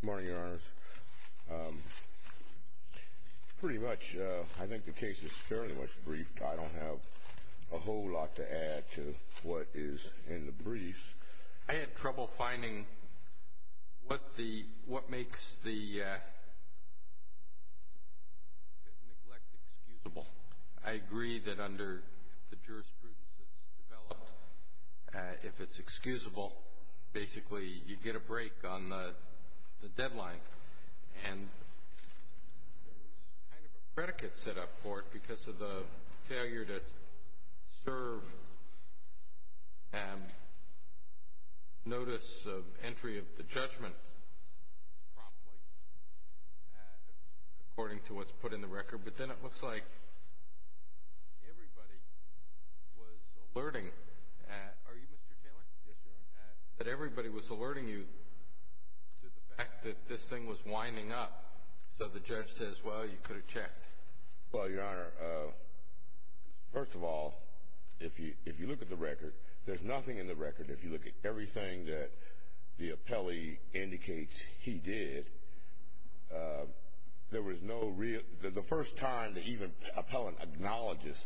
Good morning, Your Honors. Pretty much, I think the case is fairly much briefed. I don't have a whole lot to add to what is in the brief. I had trouble finding what makes the case. I agree that under the jurisprudence that's developed, if it's excusable, basically you get a break on the deadline. And there's kind of a predicate set up for it because of the failure to serve notice of entry of the judgment promptly, according to what's put in the record. But then it looks like everybody was alerting you to the fact that this thing was winding up. So the judge says, well, you could have checked. Well, Your Honor, first of all, if you look at the record, there's nothing in the record. If you look at everything that the appellee indicates he did, there was no real, the first time the even appellant acknowledges,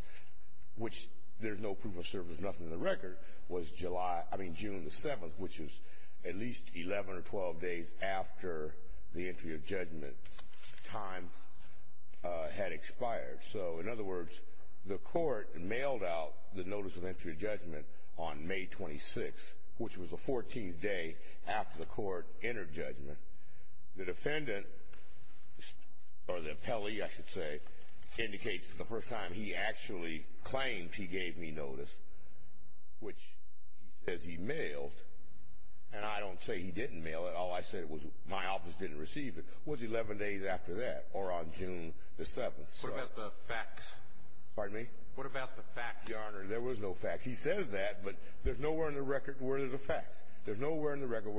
which there's no proof of service, nothing in the record, was July, I mean June the 7th, which is at least 11 or 12 days after the entry of judgment time had expired. So in other words, the court mailed out the notice of entry of judgment on May 26th, which was the 14th day after the court entered judgment. The defendant, or the appellee, I should say, indicates that the first time he actually claimed he gave me notice, which he says he mailed, and I don't say he didn't mail it, all I said was my office didn't receive it, was 11 days after that, or on June the 7th. What about the facts? Pardon me? What about the facts? Your Honor, there was no facts. He says that, but there's nowhere in the record where there's a fact. There's nowhere in the record.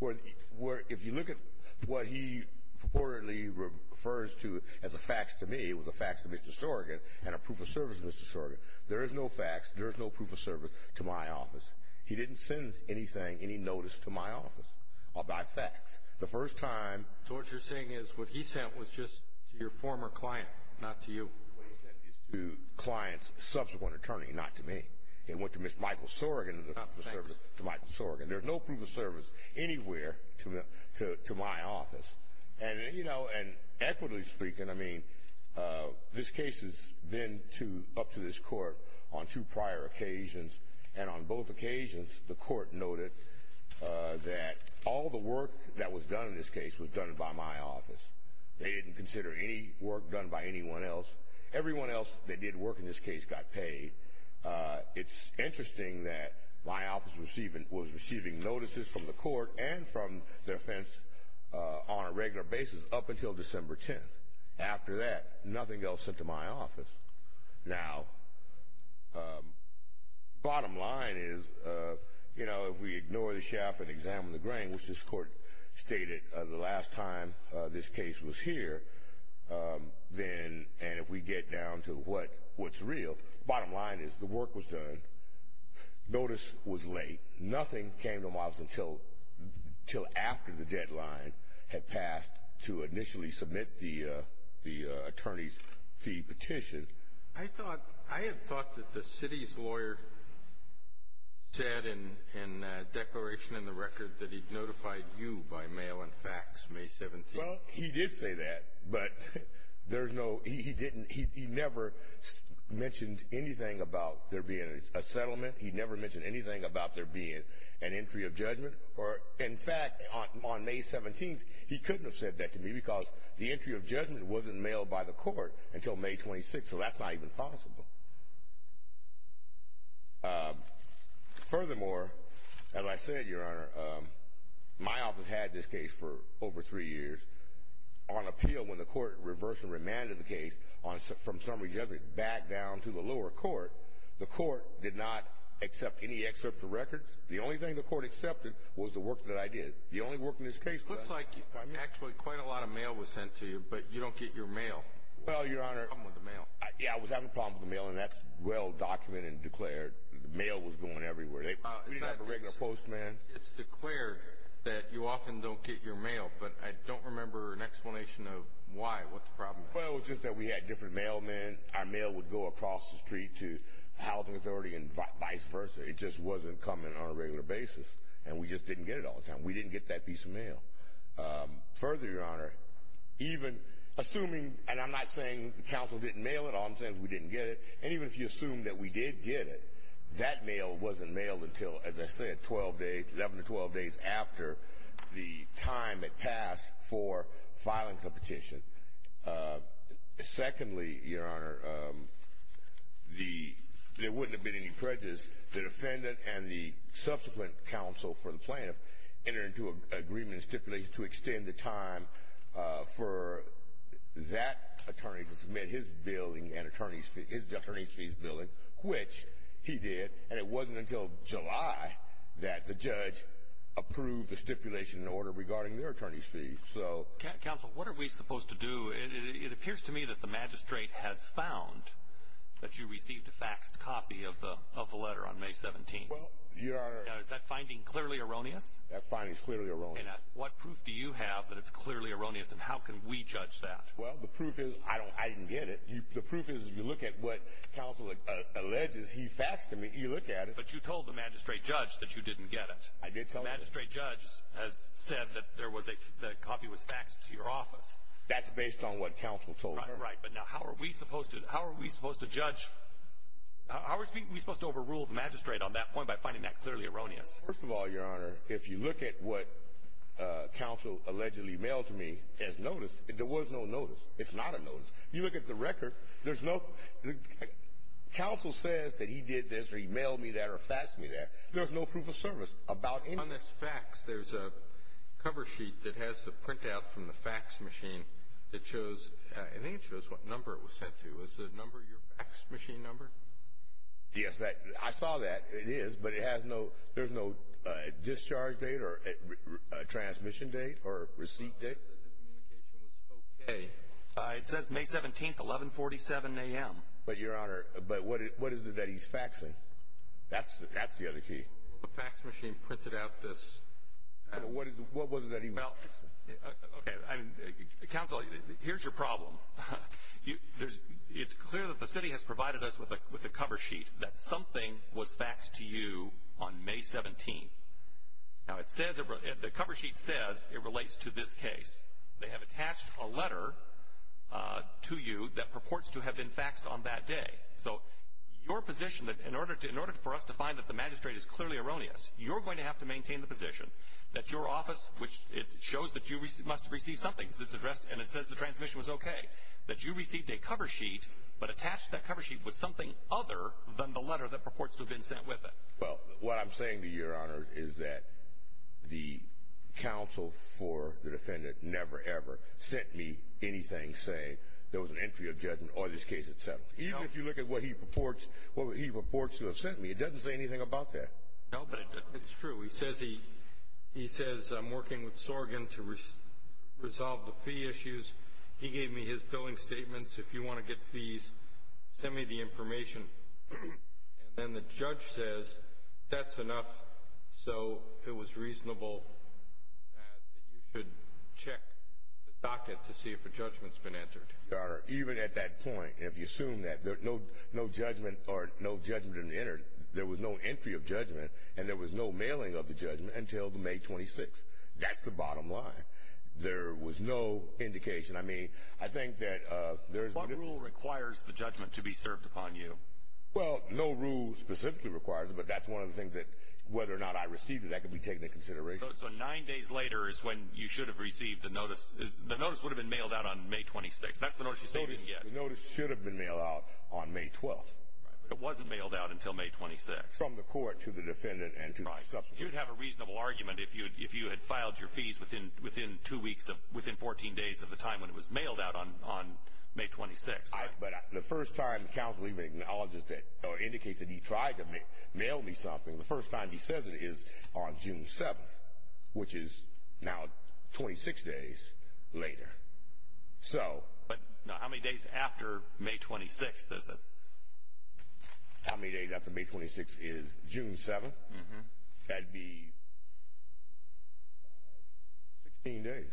What he purportedly refers to as a facts to me was a facts to Mr. Sorrigan and a proof of service to Mr. Sorrigan. There is no facts, there is no proof of service to my office. He didn't send anything, any notice to my office about facts. The first time... So what you're saying is what he sent was just to your former client, not to you? He sent these to clients' subsequent attorney, not to me. It went to Mr. Michael Sorrigan, not to Mr. Sorrigan. There's no proof of service anywhere to my office. And, you know, and equitably speaking, I mean, this case has been up to this Court on two prior occasions, and on both occasions the Court noted that all the work that was done in this case was done by my office. They didn't consider any work done by anyone else. Everyone else that did work in this case got paid. It's interesting that my office was receiving notices from the Court and from their offense on a regular basis up until December 10th. After that, nothing else sent to my office. Now, bottom line is, you know, if we ignore the shaft and examine the grain, which this Court stated the last time this case was here, then, and if we get down to what's real, bottom line is the work was done, notice was late. Nothing came to my office until after the deadline had passed to initially submit the attorney's fee petition. I thought, I had thought that the city's lawyer said in a declaration in the record that he'd notified you by mail and fax May 17th. Well, he did say that, but there's no, he didn't, he never mentioned anything about there being a settlement. He never mentioned anything about there being an entry of judgment. Or, in fact, on May 17th, he couldn't have said that to me because the entry of judgment wasn't mailed by the Court until May 26th, so that's not even possible. Furthermore, as I said, Your Honor, my office had this case for over three years on appeal when the Court reversed and remanded the case from summary judgment back down to the lower court. The Court did not accept any excerpts of records. The only thing the Court accepted was the work that I did. The only work in this case... Looks like, actually, quite a lot of mail was sent to you, but you don't get your mail. Well, Your Honor... I'm with the mail. Yeah, I was having a problem with the mail, and that's well documented and declared. The mail was going everywhere. We didn't have a regular postman. It's declared that you often don't get your mail, but I don't remember an explanation of why. What's the problem? Well, it's just that we had different mailmen. Our mail would go across the street to the Housing Authority and vice versa. It just wasn't coming on a regular basis, and we just didn't get it all the time. We didn't get that piece of mail. Further, Your Honor, even assuming... And I'm not saying the Council didn't mail it. All I'm saying is we didn't get it. And even if you assume that we did get it, that mail wasn't mailed until, as I said, 11 to 12 days after the time it passed for filing the petition. Secondly, Your Honor, there wouldn't have been any prejudice. The defendant and the subsequent counsel for the plaintiff entered into an agreement and stipulated to extend the time for that attorney to submit his billing and his attorney's fees billing, which he did. And it wasn't until July that the judge approved the stipulation in order regarding their attorney's fees. Counsel, what are we supposed to do? It appears to me that the magistrate has found that you received a faxed copy of the letter on May 17th. Is that finding clearly erroneous? That finding is clearly erroneous. And what proof do you have that it's clearly erroneous, and how can we judge that? Well, the proof is I didn't get it. The proof is if you look at what counsel alleges he faxed to me, you look at it. But you told the magistrate judge that you didn't get it. I did tell him. The magistrate judge has said that the copy was faxed to your office. That's based on what counsel told her. Right, but now how are we supposed to judge... How are we supposed to overrule the magistrate on that point by finding that clearly erroneous? First of all, Your Honor, if you look at what counsel allegedly mailed to me as notice, there was no notice. It's not a notice. You look at the record, there's no... Counsel says that he did this or he mailed me that or faxed me that. There's no proof of service about any... On this fax, there's a cover sheet that has the printout from the fax machine that shows... I think it shows what number it was sent to. Was the number your fax machine number? Yes, I saw that. It is, but it has no... There's no discharge date or transmission date or receipt date. It says May 17th, 1147 AM. But Your Honor, but what is it that he's faxing? That's the other key. The fax machine printed out this... What was it that he... Okay, counsel, here's your problem. You... There's... It's clear that the city has provided us with a cover sheet that something was faxed to you on May 17th. Now, it says... The cover sheet says it relates to this case. They have attached a letter to you that purports to have been faxed on that day. So your position that in order to... In order for us to find that the magistrate is clearly erroneous, you're going to have to maintain the position that your office, which it shows that you must have received something that's addressed and it says the transmission was okay, that you received a cover sheet but attached that cover sheet with something other than the letter that purports to have been sent with it. Well, what I'm saying to you, Your Honor, is that the counsel for the defendant never, ever sent me anything saying there was an entry of judgment or this case had settled. Even if you look at what he purports to have sent me, it doesn't say anything about that. No, but it's true. He says I'm working with Sorgan to resolve the fee issues. He gave me his billing statements. If you want to get fees, send me the information. And then the judge says that's enough so it was reasonable that you should check the docket to see if a judgment's been entered. Your Honor, even at that point, if you assume that there's no judgment or no judgment entered, there was no entry of judgment and there was no mailing of the judgment until May 26. That's the bottom line. There was no indication. I mean, I think that there's... What rule requires the judgment to be served upon you? Well, no rule specifically requires it, but that's one of the things that whether or not I received it, that could be taken into consideration. So nine days later is when you should have received the notice. The notice would have been mailed out on May 26. That's the notice you sent me. The notice should have been mailed out on May 12th. But it wasn't mailed out until May 26. From the court to the defendant. You'd have a reasonable argument if you had filed your fees within two weeks of, within 14 days of the time when it was mailed out on May 26. But the first time counsel even acknowledges that or indicates that he tried to mail me something, the first time he says it is on June 7th, which is now 26 days later. So... But how many days after May 26th is it? How many days after May 26th is June 7th? That'd be 16 days.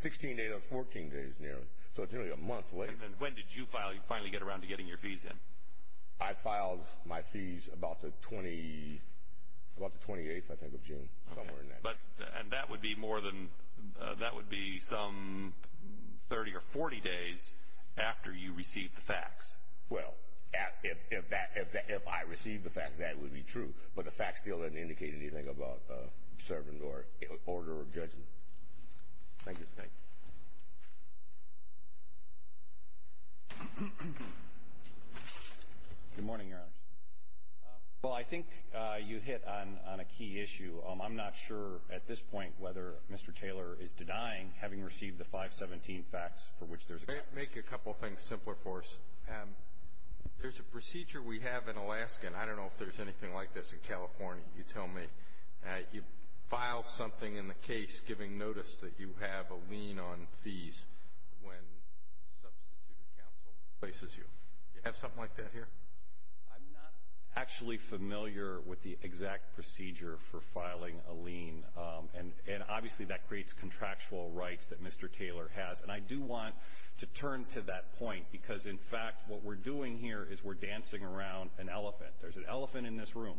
16 days on 14 days nearly. So it's nearly a month later. And when did you finally get around to getting your fees in? I filed my fees about the 28th, I think, of June. Somewhere in there. And that would be more than, that would be some 30 or 40 days after you received the facts. Well, if that, if I received the facts, that would be true. But the facts still didn't indicate anything about servant or order of judgment. Thank you. Good morning, Your Honor. Well, I think you hit on a key issue. I'm not sure at this point whether Mr. Taylor is denying having received the 517 facts for which there's a... Make a couple things simpler for us. There's a procedure we have in Alaska, and I don't know if there's anything like this in California, you tell me. You file something in the case giving notice that you have a lien on fees when substituted counsel replaces you. You have something like that here? I'm not actually familiar with the exact procedure for filing a lien. And obviously that creates contractual rights that Mr. Taylor has. And I do want to turn to that point because, in fact, what we're doing here is we're dancing around an elephant. There's an elephant in this room.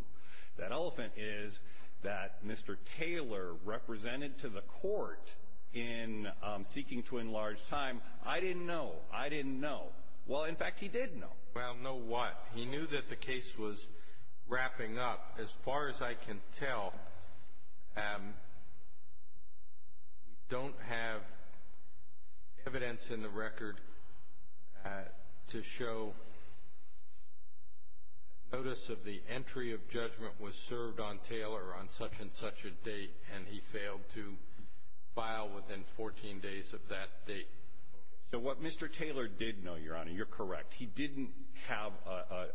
That elephant is that Mr. Taylor represented to the court in seeking to enlarge time. I didn't know. I didn't know. Well, in fact, he did know. Well, know what? He knew that the case was wrapping up. As far as I can tell, we don't have evidence in the record to show notice of the entry of judgment was served on Taylor on such-and-such a date, and he failed to file within 14 days of that date. So what Mr. Taylor did know, Your Honor, you're correct. He didn't have a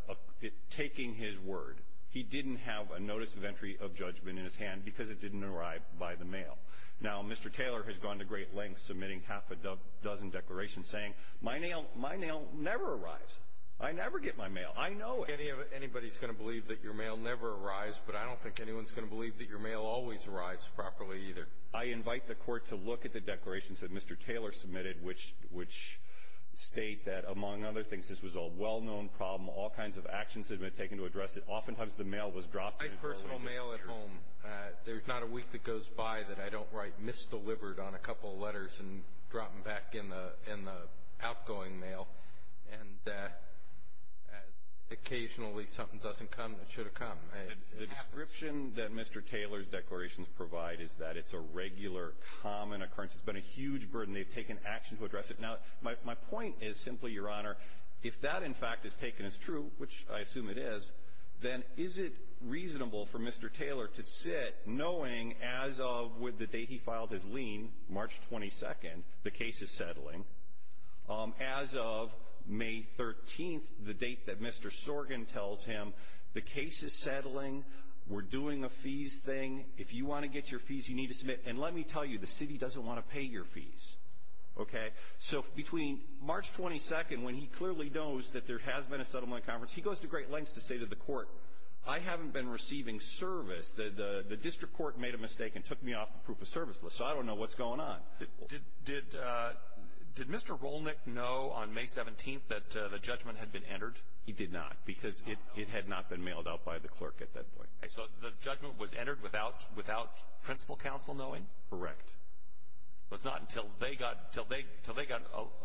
— taking his word, he didn't have a notice of entry of judgment in his hand because it didn't arrive by the mail. Now, Mr. Taylor has gone to great lengths submitting half a dozen declarations saying, My mail — my mail never arrives. I never get my mail. I know it. Anybody's going to believe that your mail never arrives, but I don't think anyone's going to believe that your mail always arrives properly either. I invite the Court to look at the problem. All kinds of actions have been taken to address it. Oftentimes the mail was dropped. I write personal mail at home. There's not a week that goes by that I don't write misdelivered on a couple of letters and drop them back in the outgoing mail, and occasionally something doesn't come that should have come. The description that Mr. Taylor's declarations provide is that it's a regular, common occurrence. It's been a huge burden. They've taken action to address it. Now, my point is simply, Your Honor, if that, in fact, is taken as true, which I assume it is, then is it reasonable for Mr. Taylor to sit knowing as of with the date he filed his lien, March 22nd, the case is settling? As of May 13th, the date that Mr. Sorgan tells him, the case is settling. We're doing a fees thing. If you want to get your fees, you need to submit. Let me tell you, the city doesn't want to pay your fees. Between March 22nd, when he clearly knows that there has been a settlement conference, he goes to great lengths to say to the court, I haven't been receiving service. The district court made a mistake and took me off the proof of service list, so I don't know what's going on. Did Mr. Rolnick know on May 17th that the judgment had been entered? He did not, because it had not been mailed out by the clerk at that point. Correct. It was not until they got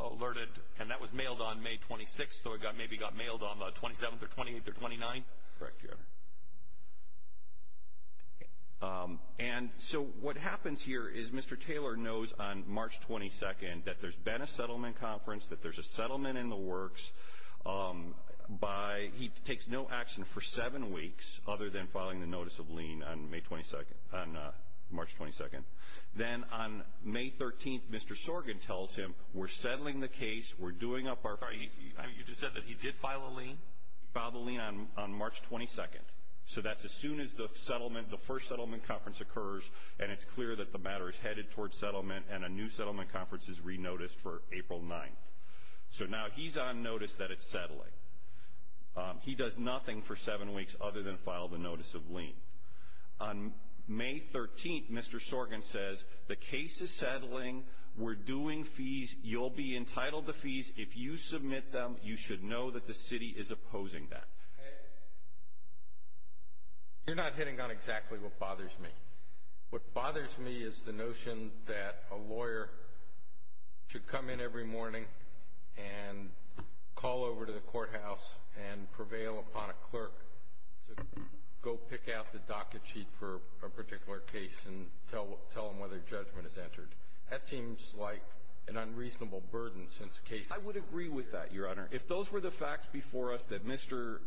alerted, and that was mailed on May 26th, so it maybe got mailed on the 27th or 28th or 29th? Correct, Your Honor. And so what happens here is Mr. Taylor knows on March 22nd that there's been a settlement conference, that there's a settlement in the works. He takes no action for seven weeks other than filing the notice of lien on March 22nd. Then on May 13th, Mr. Sorgen tells him, we're settling the case. You just said that he did file a lien? He filed a lien on March 22nd, so that's as soon as the first settlement conference occurs, and it's clear that the matter is headed towards settlement and a new settlement conference is re-noticed for April 9th. So now he's on notice that it's settling. He does nothing for seven weeks other than file the notice of lien. On May 13th, Mr. Sorgen says, the case is settling. We're doing fees. You'll be entitled to fees. If you submit them, you should know that the city is opposing that. You're not hitting on exactly what bothers me. What bothers me is the notion that a lawyer should come in every morning and call over to the courthouse and prevail upon a clerk to go pick out the docket sheet for a particular case and tell them whether judgment is entered. That seems like an unreasonable burden since the case — I would agree with that, Your Honor. If those were the facts before us that Mr.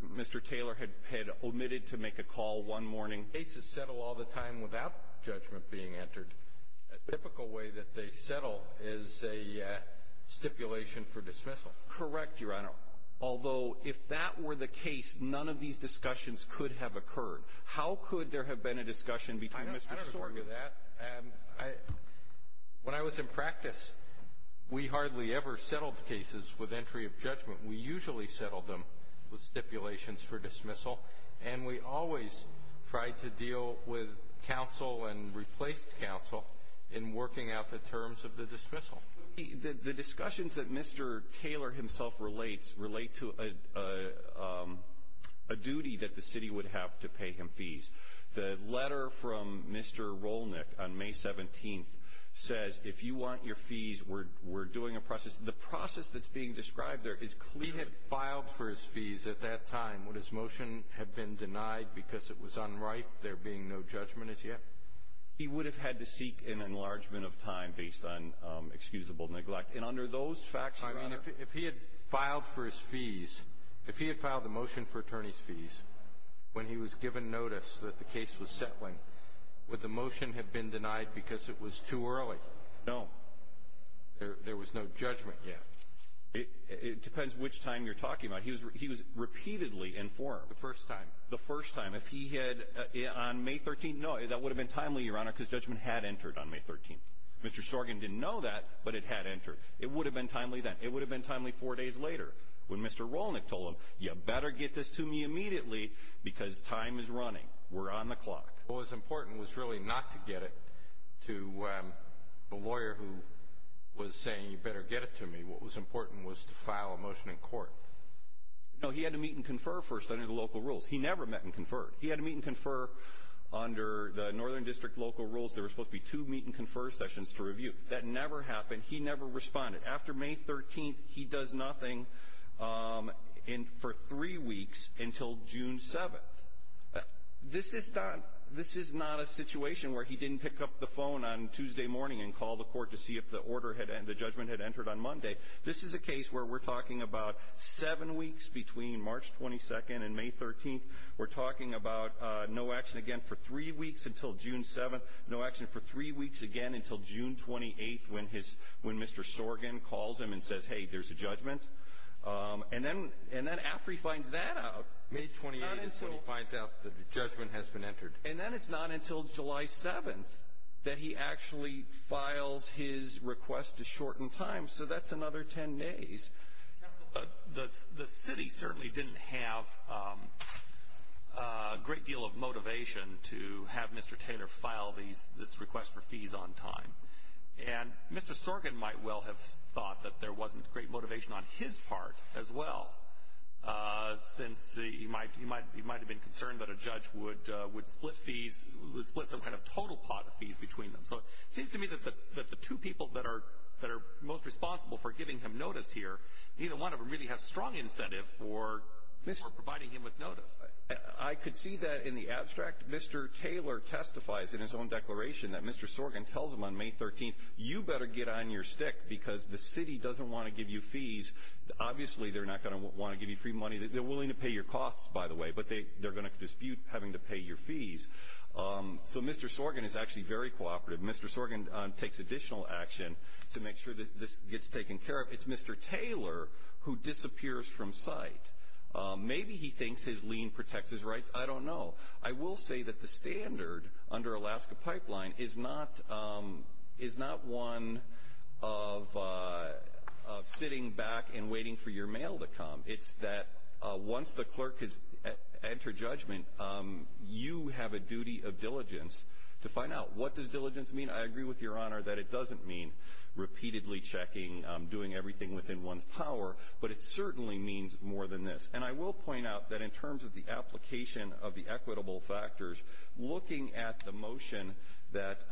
Taylor had omitted to make a call one morning — Cases settle all the time without judgment being entered. A typical way that they settle is a stipulation for dismissal. Correct, Your Honor, although if that were the case, none of these discussions could have occurred. How could there have been a discussion between Mr. Sorgen — I don't — I don't agree with that. When I was in practice, we hardly ever settled cases with entry of judgment. We usually settled them with stipulations for dismissal, and we always tried to deal with counsel and replaced counsel in working out the terms of the dismissal. The discussions that Mr. Taylor himself relates to a duty that the city would have to pay him fees. The letter from Mr. Rolnick on May 17th says, if you want your fees, we're doing a process. The process that's being described there is clearly — He had filed for his fees at that time. Would his motion have been denied because it was unright, there being no judgment as yet? He would have had to seek an enlargement of time based on excusable neglect. And under those facts, Your Honor — I mean, if he had filed for his fees, if he had filed a motion for attorney's fees when he was given notice that the case was settling, would the motion have been denied because it was too early? No. There was no judgment yet. It depends which time you're talking about. He was — he was repeatedly informed. The first time. The first time. If he had — on May 13th — no, that would have been timely, Your Honor, because judgment had entered on May 13th. Mr. Sorgan didn't know that, but it had entered. It would have been timely then. It would have been timely four days later when Mr. Rolnick told him, you better get this to me immediately because time is running. We're on the clock. What was important was really not to get it to the lawyer who was saying, you better get it to me. What was important was to file a motion in court. No, he had to meet and confer first under the local rules. He never met and conferred. He never met and conferred. He never responded. After May 13th, he does nothing for three weeks until June 7th. This is not — this is not a situation where he didn't pick up the phone on Tuesday morning and call the court to see if the order had — the judgment had entered on Monday. This is a case where we're talking about seven weeks between March 22nd and May 13th. We're talking about no action again for three weeks until June 7th, no action for three weeks again until June 28th when his — when Mr. Sorgan calls him and says, hey, there's a judgment. And then — and then after he finds that out — May 28th is when he finds out that the judgment has been entered. And then it's not until July 7th that he actually files his request to shorten time. So that's another 10 days. Counsel, the city certainly didn't have a great deal of motivation to have Mr. Taylor file these — this request for fees on time. And Mr. Sorgan might well have thought that there wasn't great motivation on his part as well, since he might — he might have been concerned that a judge would would split fees — would split some kind of total pot of fees between them. So it seems to me that the two people that are — that are most responsible for giving him notice here, neither one of them really has strong incentive for providing him with notice. I could see that in the abstract. Mr. Taylor testifies in his own declaration that Mr. Sorgan tells him on May 13th, you better get on your stick because the city doesn't want to give you fees. Obviously, they're not going to want to give you free money. They're willing to pay your costs, by the way, but they're going to dispute having to pay your fees. So Mr. Sorgan is actually very cooperative. Mr. Sorgan takes additional action to make sure that this gets taken care of. It's Mr. Taylor who disappears from sight. Maybe he thinks his lien protects his rights. I don't know. I will say that the standard under Alaska Pipeline is not — is not one of sitting back and waiting for your mail to come. It's that once the clerk has entered judgment, you have a duty of diligence to find out. What does diligence mean? I agree with your doing everything within one's power, but it certainly means more than this. And I will point out that in terms of the application of the equitable factors, looking at the motion that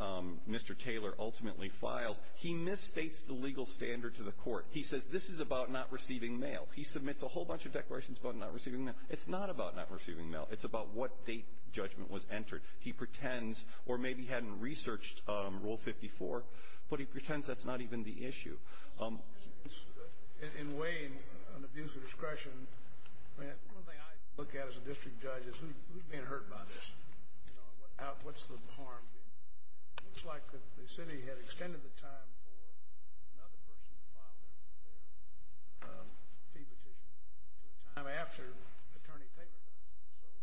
Mr. Taylor ultimately files, he misstates the legal standard to the court. He says this is about not receiving mail. He submits a whole bunch of declarations about not receiving mail. It's not about not receiving mail. It's about what date judgment was entered. He pretends — or in weighing an abuse of discretion — I mean, one thing I look at as a district judge is who's being hurt by this? You know, what's the harm being done? It looks like the city had extended the time for another person to file their fee petition to a time after Attorney Taylor did. So the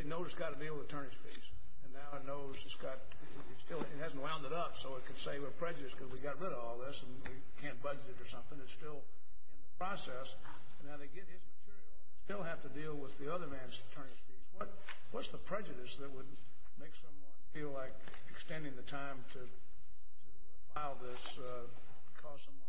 state knows it's got to deal with attorney's fees. And now it knows it's got — it still — it hasn't wound it up so it can say we're prejudiced because we got rid of all this and we can't budget or something. It's still in the process. And now they get his material and they still have to deal with the other man's attorney's fees. What's the prejudice that would make someone feel like extending the time to file this would cause someone harm?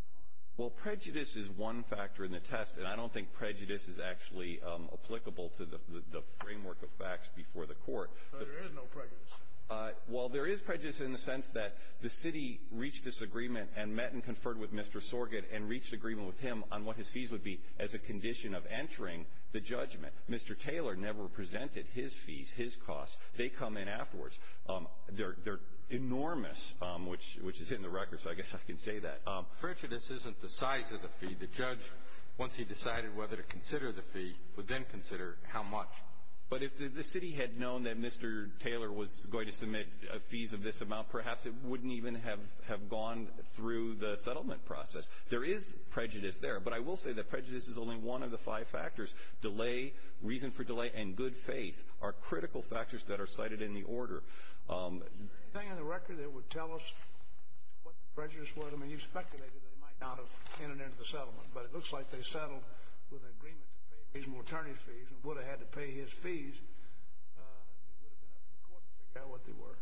Well, prejudice is one factor in the test. And I don't think prejudice is actually applicable to the framework of facts before the court. So there is no prejudice? Well, there is prejudice in the sense that the city reached this agreement and met and conferred with Mr. Sorget and reached agreement with him on what his fees would be as a condition of entering the judgment. Mr. Taylor never presented his fees, his costs. They come in afterwards. They're enormous, which is in the record, so I guess I can say that. Prejudice isn't the size of the fee. The judge, once he decided whether to consider the fee, would then consider how much. But if the city had known that Mr. Taylor was going to submit fees of this amount, perhaps it wouldn't even have gone through the settlement process. There is prejudice there, but I will say that prejudice is only one of the five factors. Delay, reason for delay, and good faith are critical factors that are cited in the order. Is there anything in the record that would tell us what the prejudice was? I mean, you speculated they might not have entered into the settlement, but it looks like they settled with an agreement to pay reasonable attorney's fees and would have had to pay his fees. It would have been up to the court to figure out what they were.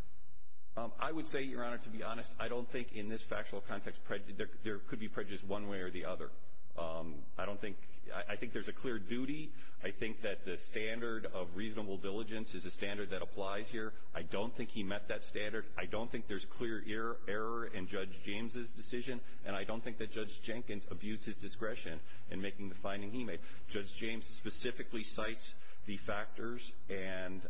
I would say, Your Honor, to be honest, I don't think in this factual context there could be prejudice one way or the other. I think there's a clear duty. I think that the standard of reasonable diligence is a standard that applies here. I don't think he met that standard. I don't think there's clear error in Judge James' decision, and I don't think that Judge Jenkins abused his discretion in making the finding he made. Judge James specifically cites the factors and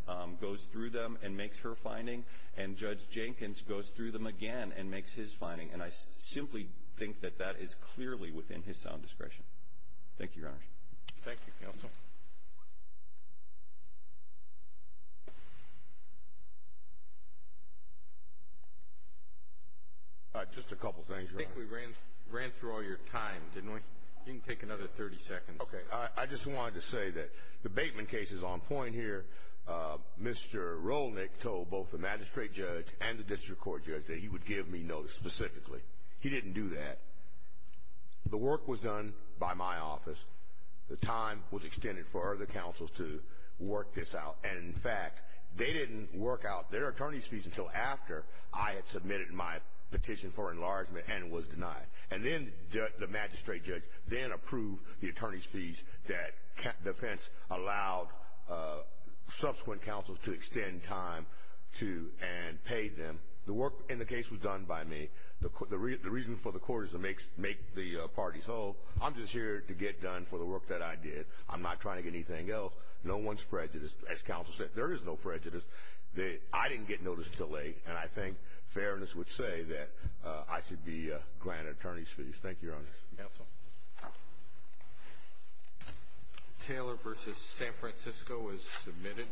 goes through them and makes her finding, and Judge Jenkins goes through them again and makes his finding, and I simply think that that is clearly within his sound discretion. Thank you, Your Honor. Thank you, counsel. Just a couple things, Your Honor. I think we ran through all your time, didn't we? You can take another 30 seconds. I just wanted to say that the Bateman case is on point here. Mr. Rolnick told both the magistrate judge and the district court judge that he would give me notice specifically. He didn't do that. The work was done by my office. The time was extended for other counsels to work this out, and in fact, they didn't work out their attorney's fees until after I had submitted my petition for enlargement and was denied, and then the magistrate judge then approved the attorney's fees that defense allowed subsequent counsels to extend time to and pay them. The work in the case was done by me. The reason for the court is to make the parties whole. I'm just here to get done for the work that I did. I'm not trying to get anything else. No one's prejudiced. As counsel said, there is no prejudice. I didn't get notice until late, and I think fairness would say that I should be granted attorney's fees. Thank you, Your Honor. Counsel. Taylor v. San Francisco is submitted.